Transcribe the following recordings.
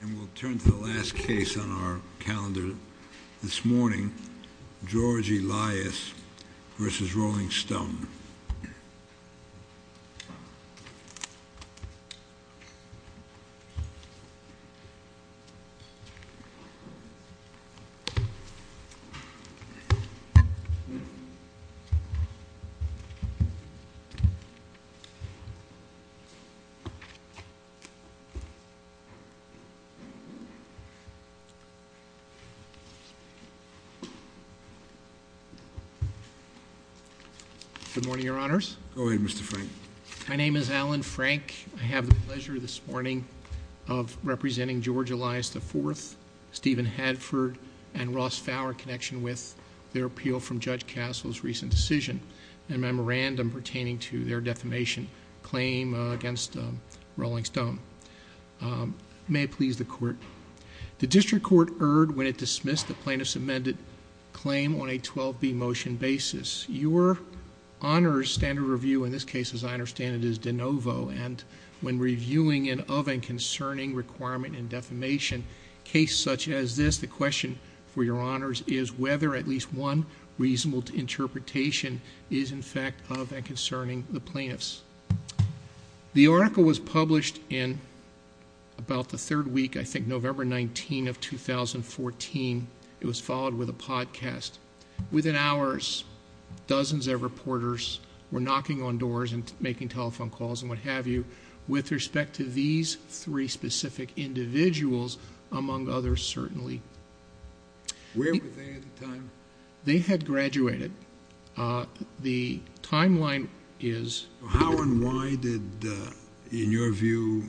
And we'll turn to the last case on our calendar this morning, George Elias v. Rolling Stone. Good morning, Your Honors. Go ahead, Mr. Frank. My name is Alan Frank. I have the pleasure this morning of representing George Elias IV, Stephen Hadford, and Ross Fowler in connection with their appeal from Judge Castle's recent decision and memorandum pertaining to their defamation claim against Rolling Stone. May it please the Court. The District Court erred when it dismissed the plaintiff's amended claim on a 12B motion basis. Your Honor's standard review in this case, as I understand it, is de novo, and when reviewing an of and concerning requirement in defamation case such as this, the question for Your Honors is whether at least one reasonable interpretation is in fact of and concerning the plaintiffs. The article was published in about the third week, I think November 19 of 2014. It was followed with a podcast. Within hours, dozens of reporters were knocking on doors and making telephone calls and what have you with respect to these three specific individuals, among others certainly. Where were they at the time? They had graduated. The timeline is... How and why did, in your view,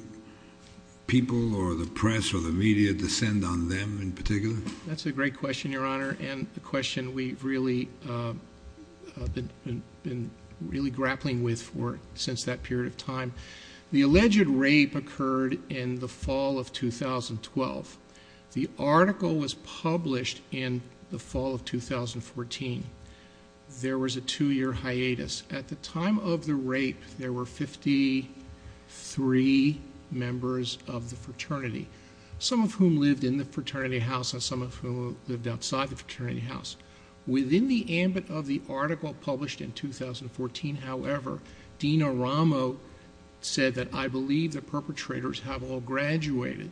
people or the press or the media descend on them in particular? That's a great question, Your Honor, and a question we've really been grappling with since that period of time. The alleged rape occurred in the fall of 2012. The article was published in the fall of 2014. There was a two-year hiatus. At the time of the rape, there were 53 members of the fraternity, some of whom lived in the fraternity house and some of whom lived outside the fraternity house. Within the ambit of the article published in 2014, however, Dean Aramo said that, I believe the perpetrators have all graduated.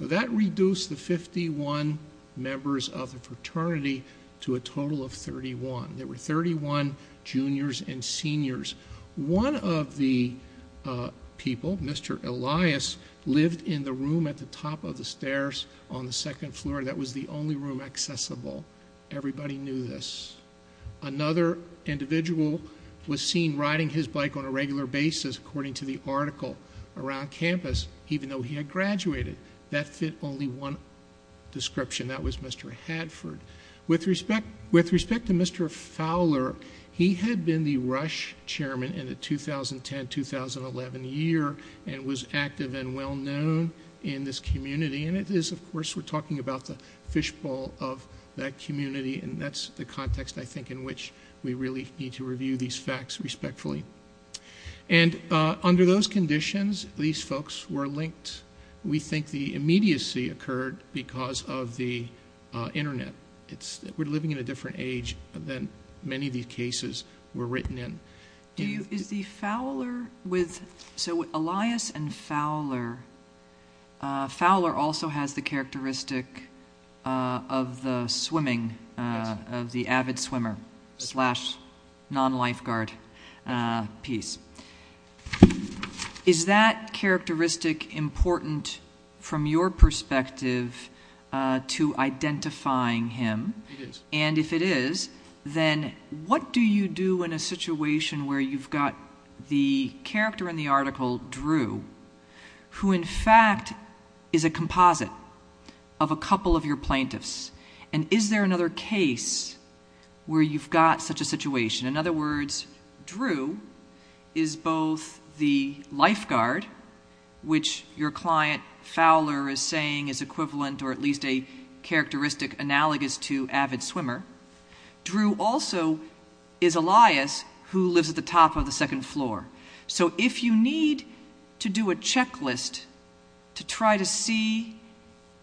That reduced the 51 members of the fraternity to a total of 31. There were 31 juniors and seniors. One of the people, Mr. Elias, lived in the room at the top of the stairs on the second floor. That was the only room accessible. Everybody knew this. Another individual was seen riding his bike on a regular basis, according to the article, around campus, even though he had graduated. That fit only one description. That was Mr. Hadford. With respect to Mr. Fowler, he had been the Rush chairman in the 2010-2011 year and was active and well-known in this community. It is, of course, we're talking about the fishbowl of that community. That's the context, I think, in which we really need to review these facts respectfully. Under those conditions, these folks were linked. We think the immediacy occurred because of the Internet. We're living in a different age than many of these cases were written in. Elias and Fowler, Fowler also has the characteristic of the swimming, of the avid swimmer slash non-lifeguard piece. Is that characteristic important from your perspective to identifying him? It is. If it is, then what do you do in a situation where you've got the character in the article, Drew, who in fact is a composite of a couple of your plaintiffs? Is there another case where you've got such a situation? In other words, Drew is both the lifeguard, which your client Fowler is saying is equivalent or at least a characteristic analogous to avid swimmer. Drew also is Elias, who lives at the top of the second floor. If you need to do a checklist to try to see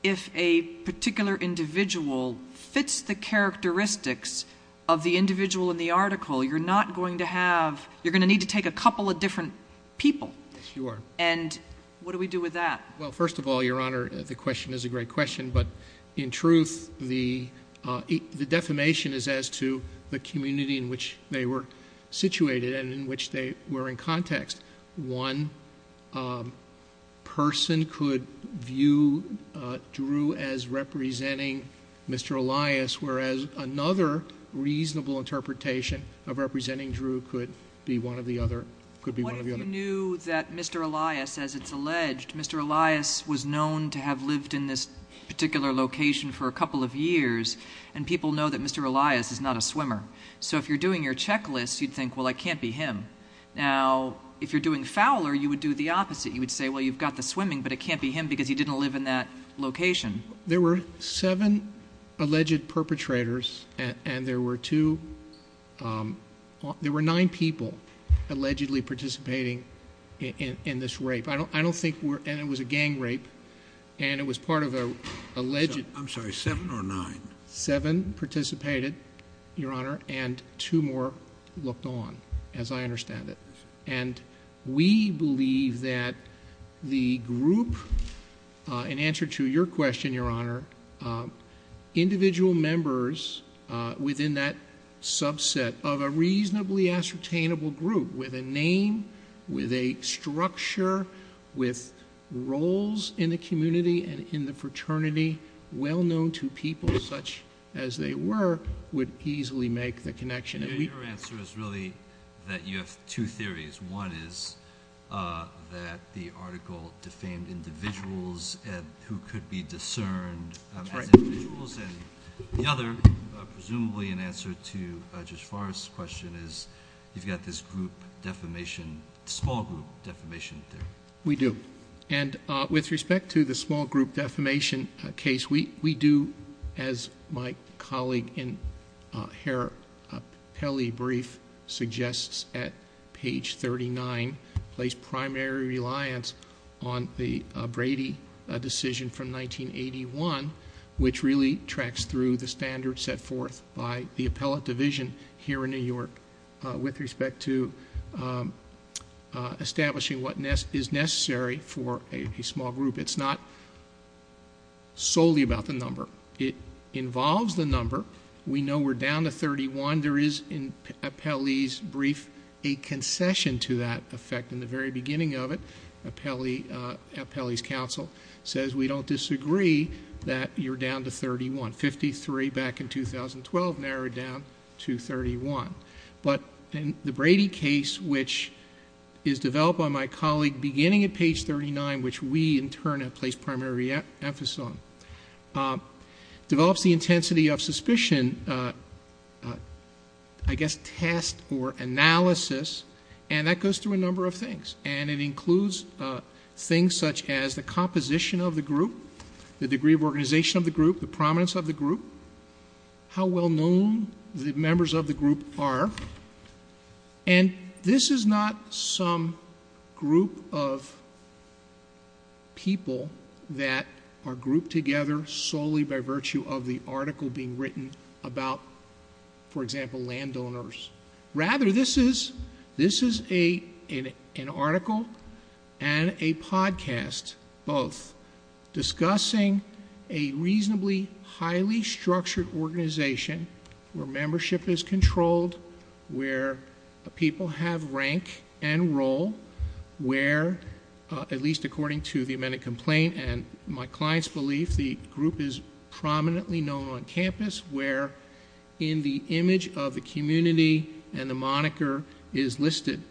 if a particular individual fits the characteristics of the individual in the article, you're going to need to take a couple of different people. Yes, you are. What do we do with that? Well, first of all, Your Honor, the question is a great question, but in truth, the defamation is as to the community in which they were situated and in which they were in context. One person could view Drew as representing Mr. Elias, whereas another reasonable interpretation of representing Drew could be one of the other. What if you knew that Mr. Elias, as it's alleged, Mr. Elias was known to have lived in this particular location for a couple of years, and people know that Mr. Elias is not a swimmer? So if you're doing your checklist, you'd think, well, it can't be him. Now, if you're doing Fowler, you would do the opposite. You would say, well, you've got the swimming, but it can't be him because he didn't live in that location. There were seven alleged perpetrators, and there were two – there were nine people allegedly participating in this rape. I don't think we're – and it was a gang rape, and it was part of an alleged – I'm sorry, seven or nine? Seven participated, Your Honor, and two more looked on, as I understand it. And we believe that the group, in answer to your question, Your Honor, individual members within that subset of a reasonably ascertainable group with a name, with a structure, with roles in the community and in the fraternity, well-known to people such as they were, would easily make the connection. Your answer is really that you have two theories. One is that the article defamed individuals who could be discerned as individuals. And the other, presumably in answer to Judge Forrest's question, is you've got this group defamation – small group defamation theory. We do. And with respect to the small group defamation case, we do, as my colleague in her appellee brief suggests at page 39, place primary reliance on the Brady decision from 1981, which really tracks through the standards set forth by the appellate division here in New York with respect to establishing what is necessary for a small group. It's not solely about the number. It involves the number. We know we're down to 31. There is, in appellee's brief, a concession to that effect. In the very beginning of it, appellee's counsel says, we don't disagree that you're down to 31. 1953, back in 2012, narrowed down to 31. But the Brady case, which is developed by my colleague beginning at page 39, which we in turn have placed primary emphasis on, develops the intensity of suspicion, I guess test or analysis, and that goes through a number of things. And it includes things such as the composition of the group, the degree of organization of the group, the prominence of the group, how well-known the members of the group are. And this is not some group of people that are grouped together solely by virtue of the article being written about, for example, landowners. Rather, this is an article and a podcast, both, discussing a reasonably highly structured organization where membership is controlled, where people have rank and role, where, at least according to the amended complaint and my client's belief, the group is prominently known on campus, where in the image of the community and the moniker is listed.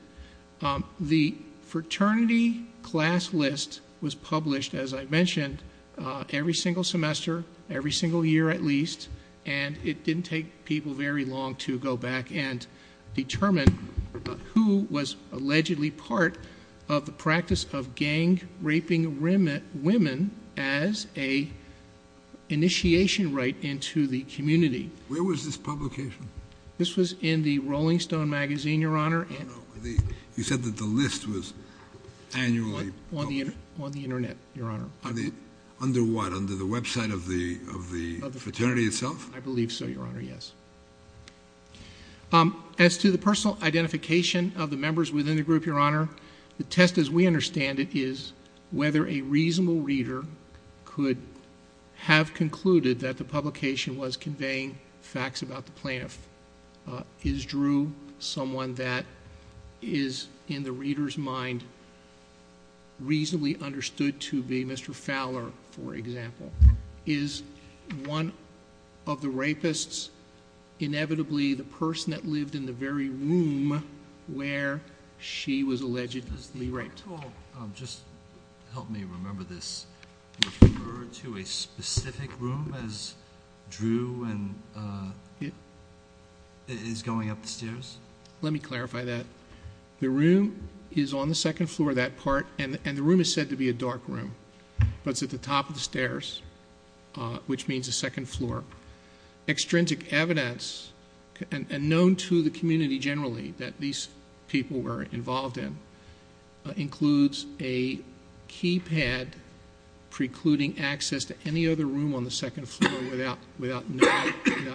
The fraternity class list was published, as I mentioned, every single semester, every single year at least, and it didn't take people very long to go back and determine who was allegedly part of the practice of gang-raping women as an initiation right into the community. Where was this publication? This was in the Rolling Stone magazine, Your Honor. Oh, no. You said that the list was annually published. On the Internet, Your Honor. Under what? Under the website of the fraternity itself? I believe so, Your Honor, yes. As to the personal identification of the members within the group, Your Honor, the test as we understand it is whether a reasonable reader could have concluded that the publication was conveying facts about the plaintiff. Is Drew someone that is, in the reader's mind, reasonably understood to be Mr. Fowler, for example? Is one of the rapists inevitably the person that lived in the very room where she was allegedly raped? Just help me remember this. Do you refer to a specific room as Drew is going up the stairs? Let me clarify that. The room is on the second floor, that part, and the room is said to be a dark room, but it's at the top of the stairs, which means the second floor. Extrinsic evidence, and known to the community generally that these people were involved in, includes a keypad precluding access to any other room on the second floor without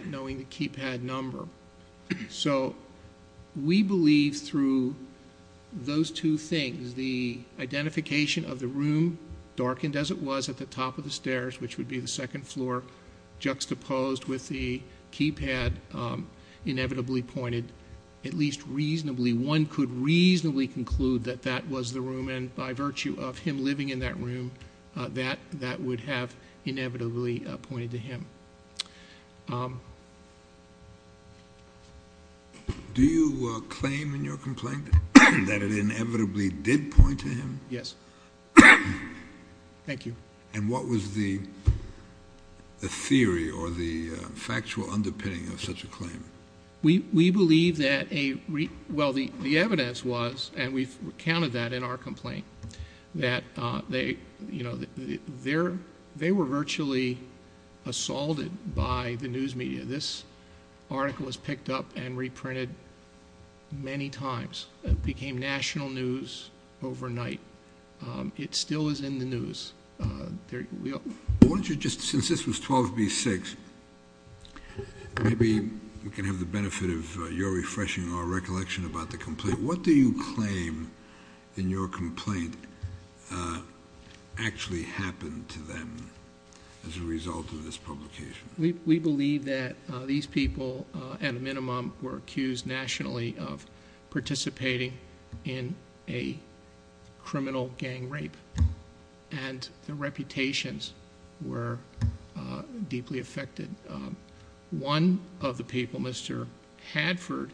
knowing the keypad number. So we believe through those two things, as the identification of the room darkened as it was at the top of the stairs, which would be the second floor, juxtaposed with the keypad inevitably pointed at least reasonably, one could reasonably conclude that that was the room, and by virtue of him living in that room, that would have inevitably pointed to him. Do you claim in your complaint that it inevitably did point to him? Yes. Thank you. And what was the theory or the factual underpinning of such a claim? We believe that a—well, the evidence was, and we've recounted that in our complaint, that they were virtually assaulted by the news media. This article was picked up and reprinted many times. It became national news overnight. It still is in the news. Why don't you just—since this was 12b-6, maybe we can have the benefit of your refreshing our recollection about the complaint. What do you claim in your complaint actually happened to them as a result of this publication? We believe that these people, at a minimum, were accused nationally of participating in a criminal gang rape. And their reputations were deeply affected. One of the people, Mr. Hadford,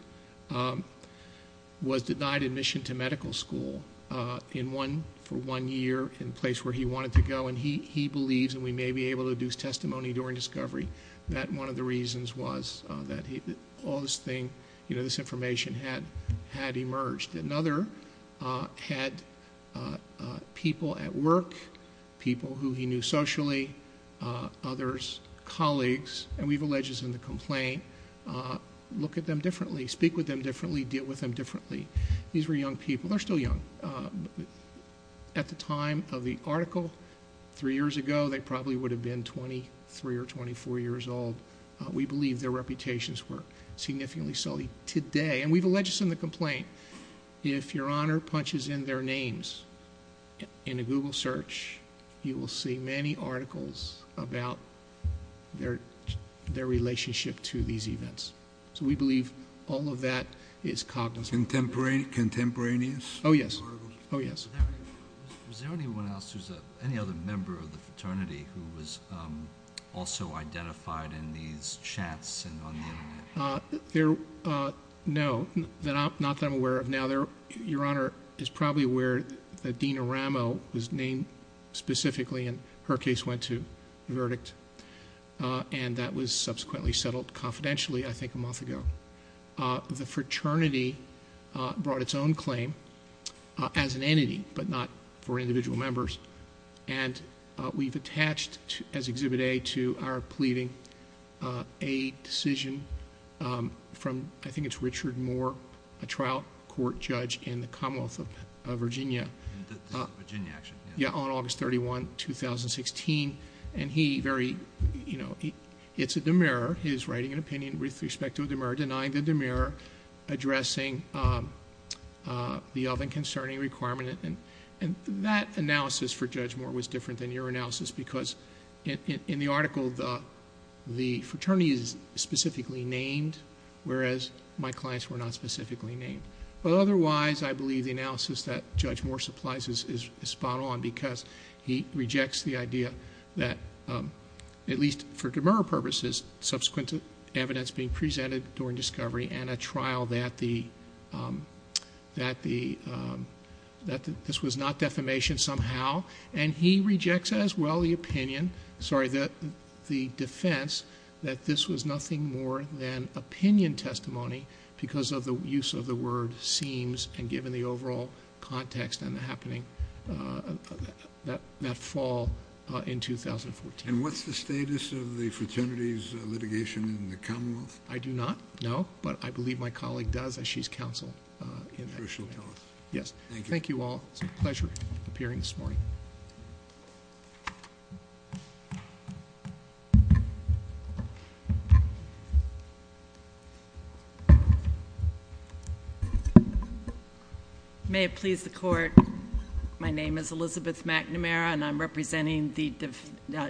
was denied admission to medical school for one year in a place where he wanted to go, and he believes, and we may be able to deduce testimony during discovery, that one of the reasons was that all this information had emerged. Another had people at work, people who he knew socially, others, colleagues, and we've alleged this in the complaint, look at them differently, speak with them differently, deal with them differently. These were young people. They're still young. At the time of the article, three years ago, they probably would have been 23 or 24 years old. We believe their reputations were significantly sullied. Today, and we've alleged this in the complaint, if Your Honor punches in their names in a Google search, you will see many articles about their relationship to these events. So we believe all of that is cognizant. Contemporaneous? Oh, yes. Oh, yes. Was there anyone else, any other member of the fraternity who was also identified in these chats? No, not that I'm aware of. Now, Your Honor is probably aware that Dina Ramo was named specifically, and her case went to verdict, and that was subsequently settled confidentially, I think, a month ago. The fraternity brought its own claim as an entity, but not for individual members, and we've attached as Exhibit A to our pleading a decision from, I think it's Richard Moore, a trial court judge in the Commonwealth of Virginia. Virginia, actually. Yeah, on August 31, 2016, and he very, you know, it's a demur, he's writing an opinion with respect to a demur, denying the demur, addressing the oven concerning requirement, and that analysis for Judge Moore was different than your analysis, because in the article the fraternity is specifically named, whereas my clients were not specifically named. But otherwise, I believe the analysis that Judge Moore supplies is spot on, because he rejects the idea that, at least for demur purposes, subsequent evidence being presented during discovery, and a trial that this was not defamation somehow, and he rejects as well the opinion, sorry, the defense, that this was nothing more than opinion testimony because of the use of the word seems and given the overall context and the happening that fall in 2014. And what's the status of the fraternity's litigation in the Commonwealth? I do not know, but I believe my colleague does, as she's counsel. She'll tell us. Thank you all. It's a pleasure appearing this morning. May it please the court. My name is Elizabeth McNamara, and I'm representing the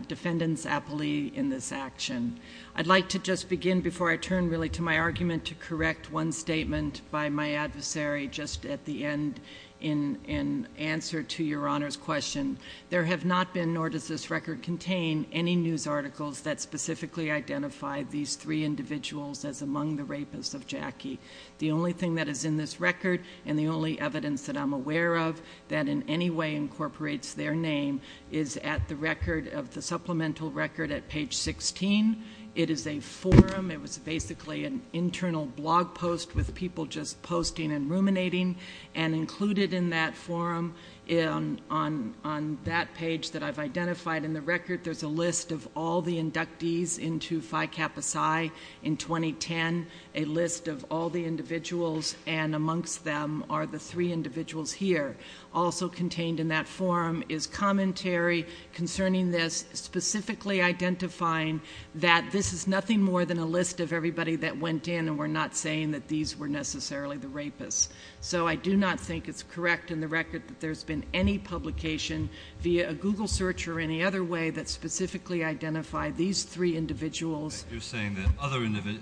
defendant's appellee in this action. I'd like to just begin, before I turn really to my argument, to correct one statement by my adversary just at the end in answer to Your Honor's question. There have not been, nor does this record contain, any news articles that specifically identify these three individuals as among the rapists of Jackie. The only thing that is in this record and the only evidence that I'm aware of that in any way incorporates their name is at the record of the supplemental record at page 16. It is a forum. It was basically an internal blog post with people just posting and ruminating, and included in that forum on that page that I've identified in the record, there's a list of all the inductees into Phi Kappa Psi in 2010, a list of all the individuals, and amongst them are the three individuals here. Also contained in that forum is commentary concerning this, specifically identifying that this is nothing more than a list of everybody that went in, and we're not saying that these were necessarily the rapists. So I do not think it's correct in the record that there's been any publication via a Google search or any other way that specifically identified these three individuals. You're saying that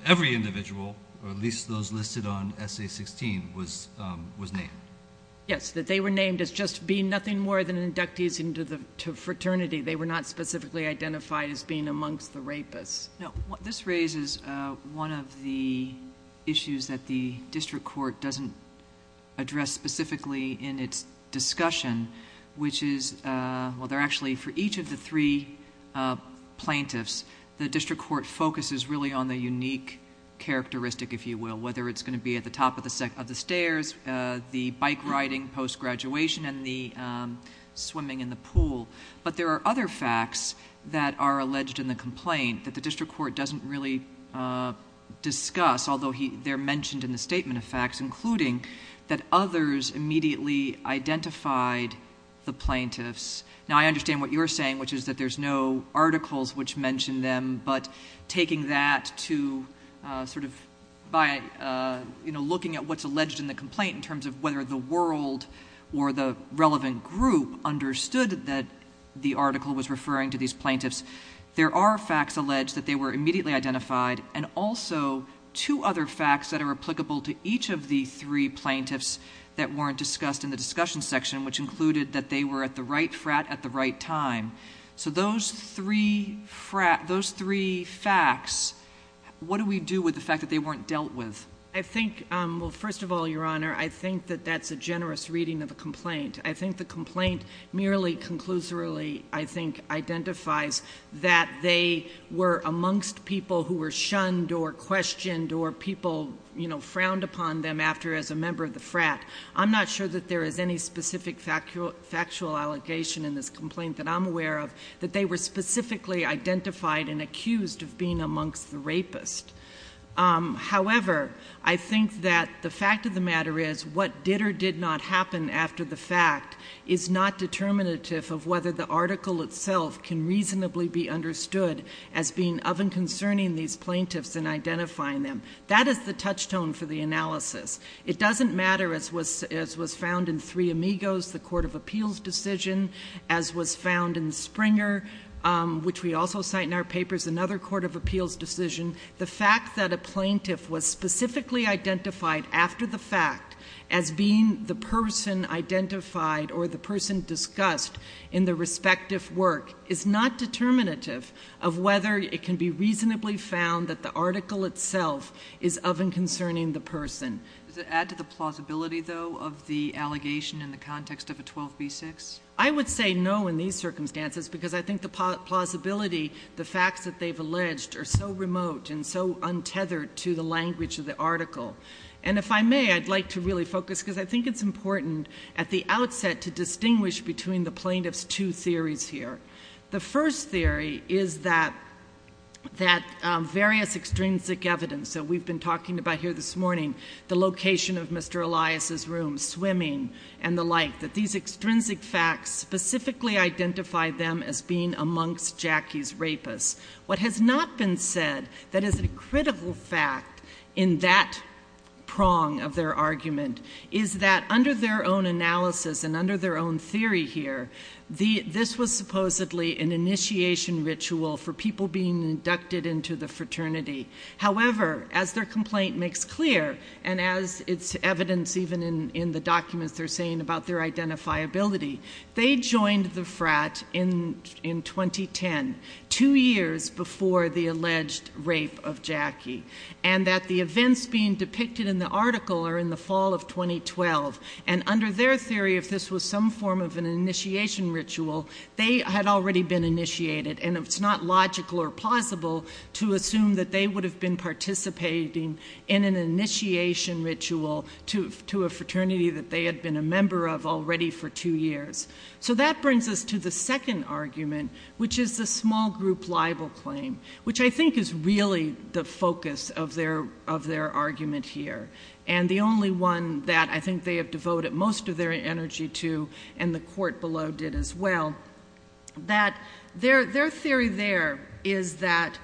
every individual, or at least those listed on Essay 16, was named. Yes, that they were named as just being nothing more than inductees into fraternity. They were not specifically identified as being amongst the rapists. No. This raises one of the issues that the district court doesn't address specifically in its discussion, which is, well, they're actually, for each of the three plaintiffs, the district court focuses really on the unique characteristic, if you will, whether it's going to be at the top of the stairs, the bike riding post-graduation, and the swimming in the pool. But there are other facts that are alleged in the complaint that the district court doesn't really discuss, although they're mentioned in the statement of facts, including that others immediately identified the plaintiffs. Now, I understand what you're saying, which is that there's no articles which mention them, but taking that to sort of by looking at what's alleged in the complaint in terms of whether the world or the relevant group understood that the article was referring to these plaintiffs, there are facts alleged that they were immediately identified, and also two other facts that are applicable to each of the three plaintiffs that weren't discussed in the discussion section, which included that they were at the right frat at the right time. So those three facts, what do we do with the fact that they weren't dealt with? I think, well, first of all, Your Honor, I think that that's a generous reading of the complaint. I think the complaint merely conclusively, I think, identifies that they were amongst people who were shunned or questioned or people, you know, frowned upon them after as a member of the frat. I'm not sure that there is any specific factual allegation in this complaint that I'm aware of, that they were specifically identified and accused of being amongst the rapists. However, I think that the fact of the matter is what did or did not happen after the fact is not determinative of whether the article itself can reasonably be understood as being of and concerning these plaintiffs in identifying them. That is the touchstone for the analysis. It doesn't matter, as was found in Three Amigos, the court of appeals decision, as was found in Springer, which we also cite in our papers, another court of appeals decision, the fact that a plaintiff was specifically identified after the fact as being the person identified or the person discussed in the respective work is not determinative of whether it can be reasonably found that the article itself is of and concerning the person. Does it add to the plausibility, though, of the allegation in the context of a 12b-6? I would say no in these circumstances because I think the plausibility, the facts that they've alleged are so remote and so untethered to the language of the article. And if I may, I'd like to really focus, because I think it's important at the outset to distinguish between the plaintiff's two theories here. The first theory is that various extrinsic evidence that we've been talking about here this morning, the location of Mr. Elias's room, swimming, and the like, that these extrinsic facts specifically identify them as being amongst Jackie's rapists. What has not been said that is a critical fact in that prong of their argument is that under their own analysis and under their own theory here, this was supposedly an initiation ritual for people being inducted into the fraternity. However, as their complaint makes clear and as it's evidenced even in the documents they're saying about their identifiability, they joined the frat in 2010, two years before the alleged rape of Jackie, and that the events being depicted in the article are in the fall of 2012. And under their theory, if this was some form of an initiation ritual, they had already been initiated, and it's not logical or plausible to assume that they would have been participating in an initiation ritual to a fraternity that they had been a member of already for two years. So that brings us to the second argument, which is the small group libel claim, which I think is really the focus of their argument here, and the only one that I think they have devoted most of their energy to, and the court below did as well. Their theory there is that,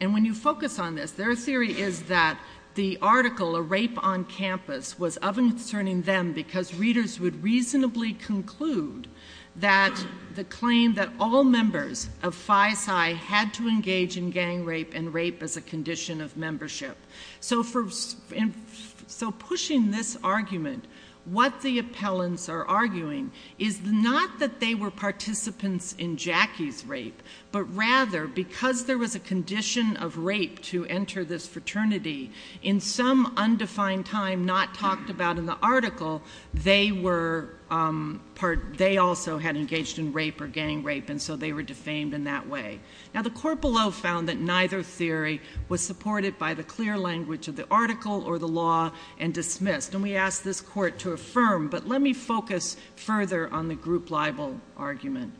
and when you focus on this, their theory is that the article, A Rape on Campus, was of concern to them because readers would reasonably conclude that the claim that all members of Phi Psi had to engage in gang rape and rape as a condition of membership. So pushing this argument, what the appellants are arguing is not that they were participants in Jackie's rape, but rather because there was a condition of rape to enter this fraternity in some undefined time not talked about in the article, they also had engaged in rape or gang rape, and so they were defamed in that way. Now the court below found that neither theory was supported by the clear language of the article or the law and dismissed. And we ask this court to affirm, but let me focus further on the group libel argument.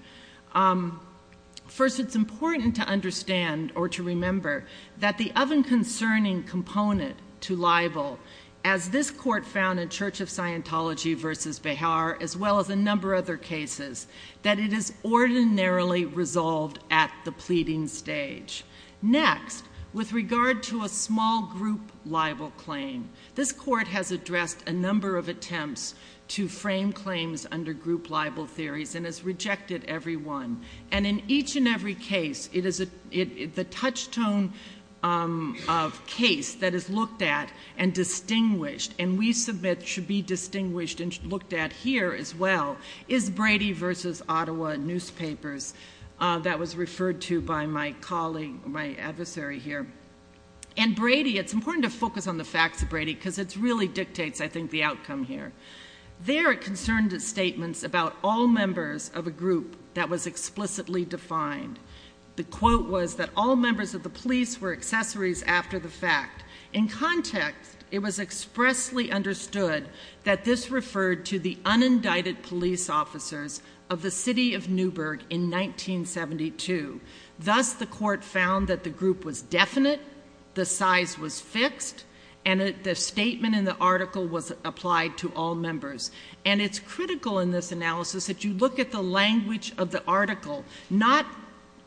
First, it's important to understand or to remember that the oven concerning component to libel, as this court found in Church of Scientology v. Behar, as well as a number of other cases, that it is ordinarily resolved at the pleading stage. Next, with regard to a small group libel claim, this court has addressed a number of attempts to frame claims under group libel theories and has rejected every one. And in each and every case, the touchstone of case that is looked at and distinguished, and we submit should be distinguished and looked at here as well, is Brady v. Ottawa newspapers. That was referred to by my colleague, my adversary here. And Brady, it's important to focus on the facts of Brady because it really dictates, I think, the outcome here. There are concerned statements about all members of a group that was explicitly defined. The quote was that all members of the police were accessories after the fact. In context, it was expressly understood that this referred to the unindicted police officers of the city of Newburgh in 1972. Thus, the court found that the group was definite, the size was fixed, and the statement in the article was applied to all members. And it's critical in this analysis that you look at the language of the article, not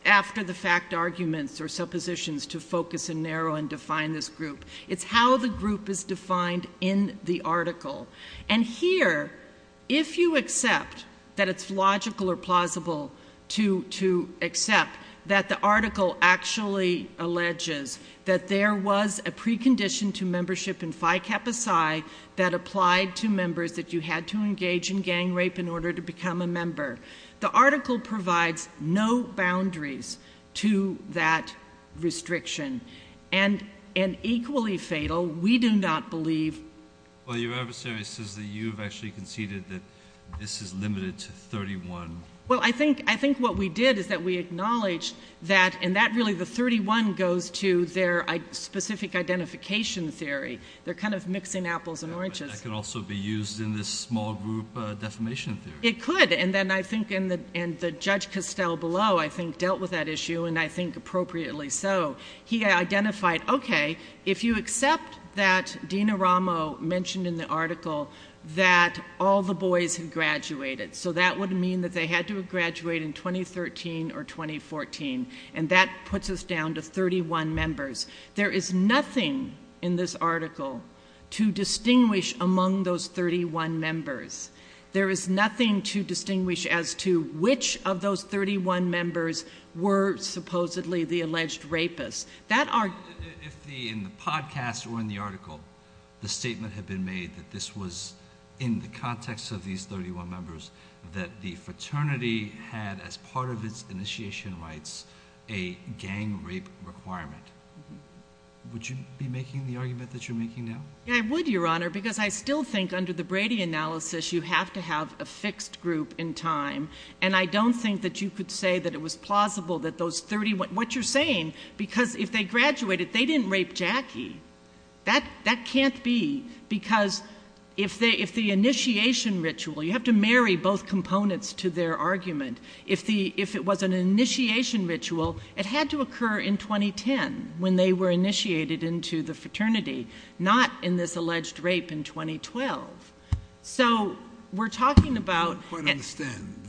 after the fact arguments or suppositions to focus and narrow and define this group. It's how the group is defined in the article. And here, if you accept that it's logical or plausible to accept that the article actually alleges that there was a precondition to membership in Phi Kappa Psi that applied to members that you had to engage in gang rape in order to become a member, the article provides no boundaries to that restriction. And equally fatal, we do not believe... Well, your adversary says that you have actually conceded that this is limited to 31. Well, I think what we did is that we acknowledged that... And that really, the 31, goes to their specific identification theory. They're kind of mixing apples and oranges. That could also be used in this small group defamation theory. It could, and then I think... And the Judge Costell below, I think, dealt with that issue, and I think appropriately so. He identified, okay, if you accept that Dina Ramo mentioned in the article that all the boys had graduated, so that would mean that they had to have graduated in 2013 or 2014, and that puts us down to 31 members. There is nothing in this article to distinguish among those 31 members. There is nothing to distinguish as to which of those 31 members were supposedly the alleged rapists. If in the podcast or in the article the statement had been made that this was in the context of these 31 members, that the fraternity had, as part of its initiation rights, a gang-rape requirement, would you be making the argument that you're making now? Yeah, I would, Your Honour, because I still think under the Brady analysis you have to have a fixed group in time, and I don't think that you could say that it was plausible that those 31... What you're saying, because if they graduated, they didn't rape Jackie. That can't be, because if the initiation ritual... You have to marry both components to their argument. If it was an initiation ritual, it had to occur in 2010, when they were initiated into the fraternity, not in this alleged rape in 2012. So we're talking about... I don't quite understand.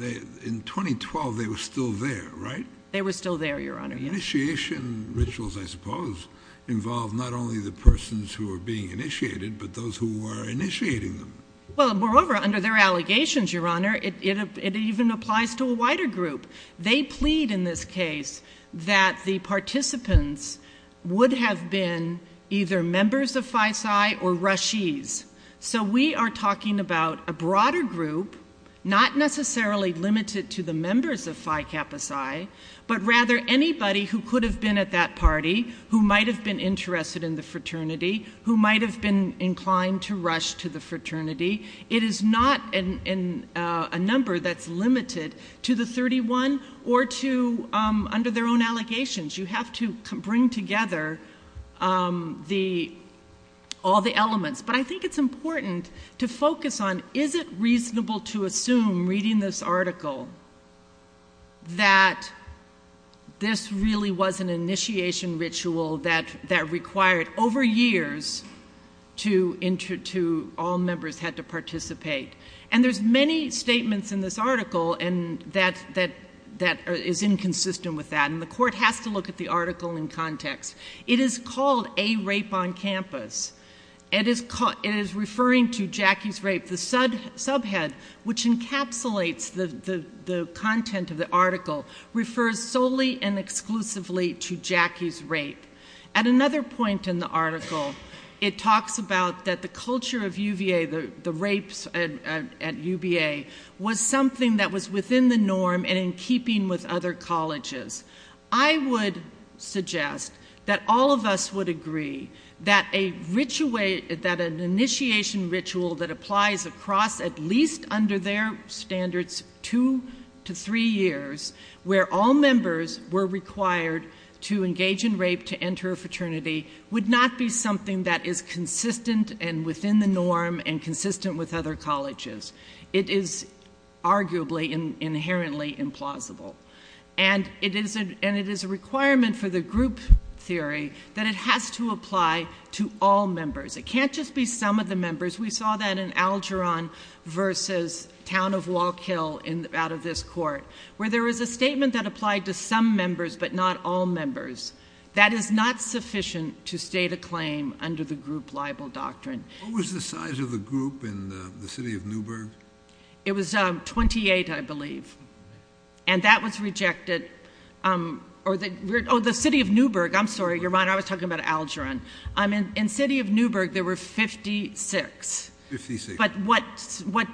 In 2012 they were still there, right? They were still there, Your Honour, yes. Initiation rituals, I suppose, involve not only the persons who are being initiated, but those who were initiating them. Well, moreover, under their allegations, Your Honour, it even applies to a wider group. They plead in this case that the participants would have been either members of Phi Psi or Rashis. So we are talking about a broader group, not necessarily limited to the members of Phi Kappa Psi, but rather anybody who could have been at that party who might have been interested in the fraternity, who might have been inclined to rush to the fraternity. It is not a number that's limited to the 31 or to under their own allegations. You have to bring together all the elements. But I think it's important to focus on, is it reasonable to assume, reading this article, that this really was an initiation ritual that required, over years, all members had to participate? And there's many statements in this article that is inconsistent with that, and the Court has to look at the article in context. It is called A Rape on Campus. It is referring to Jackie's rape, the subhead, which encapsulates the content of the article, refers solely and exclusively to Jackie's rape. At another point in the article, it talks about that the culture of UVA, the rapes at UVA, was something that was within the norm and in keeping with other colleges. I would suggest that all of us would agree that an initiation ritual that applies across at least under their standards 2 to 3 years, where all members were required to engage in rape to enter a fraternity, would not be something that is consistent and within the norm and consistent with other colleges. It is arguably inherently implausible. And it is a requirement for the group theory that it has to apply to all members. It can't just be some of the members. We saw that in Algeron versus Town of Walk Hill out of this court, where there was a statement that applied to some members but not all members. That is not sufficient to state a claim under the group libel doctrine. What was the size of the group in the city of Newburgh? It was 28, I believe. And that was rejected. Oh, the city of Newburgh. I'm sorry, Your Honor, I was talking about Algeron. In the city of Newburgh, there were 56. But what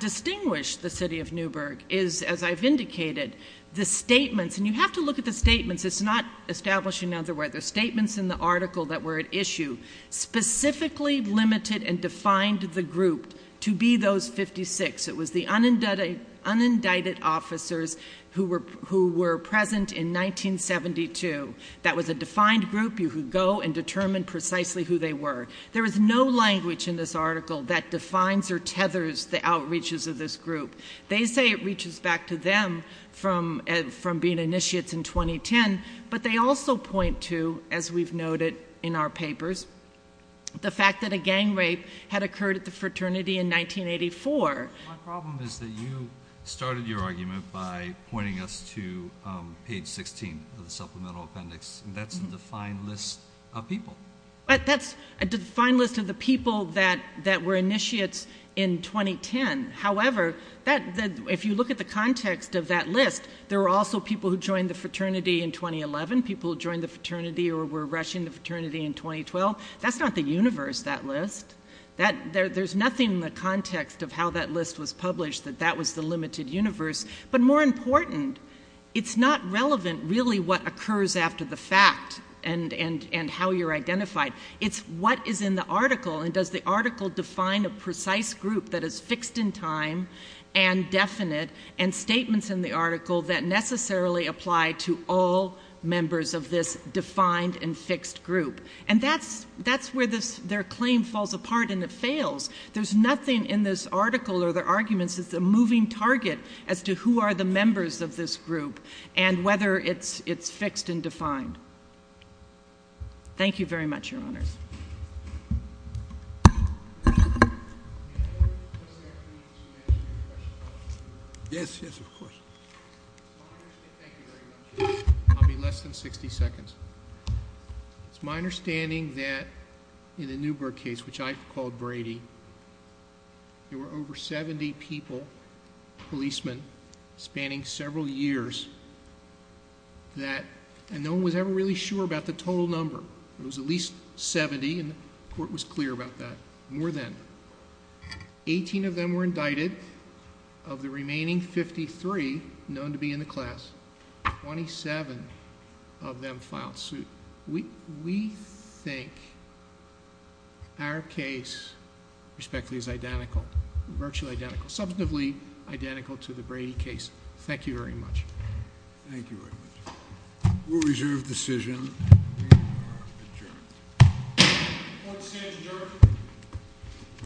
distinguished the city of Newburgh is, as I've indicated, the statements. And you have to look at the statements. It's not establishing otherwise. The statements in the article that were at issue specifically limited and defined the group to be those 56. It was the unindicted officers who were present in 1972. That was a defined group. You could go and determine precisely who they were. There is no language in this article that defines or tethers the outreaches of this group. They say it reaches back to them from being initiates in 2010, but they also point to, as we've noted in our papers, the fact that a gang rape had occurred at the fraternity in 1984. My problem is that you started your argument by pointing us to page 16 of the supplemental appendix. That's a defined list of people. That's a defined list of the people that were initiates in 2010. However, if you look at the context of that list, there were also people who joined the fraternity in 2011, people who joined the fraternity or were rushing the fraternity in 2012. That's not the universe, that list. There's nothing in the context of how that list was published that that was the limited universe. But more important, it's not relevant, really, what occurs after the fact and how you're identified. It's what is in the article, and does the article define a precise group that is fixed in time and definite and statements in the article that necessarily apply to all members of this defined and fixed group. And that's where their claim falls apart and it fails. There's nothing in this article or their arguments that's a moving target as to who are the members of this group and whether it's fixed and defined. Thank you very much, Your Honors. Yes, yes, of course. I'll be less than 60 seconds. It's my understanding that in the Newberg case, which I called Brady, there were over 70 people, policemen, spanning several years, and no one was ever really sure about the total number. It was at least 70, and the court was clear about that. More than. Eighteen of them were indicted. Of the remaining 53 known to be in the class, 27 of them filed suit. We think our case, respectively, is identical, virtually identical, substantively identical to the Brady case. Thank you very much. Thank you very much. We'll reserve the decision. We are adjourned. Court is adjourned.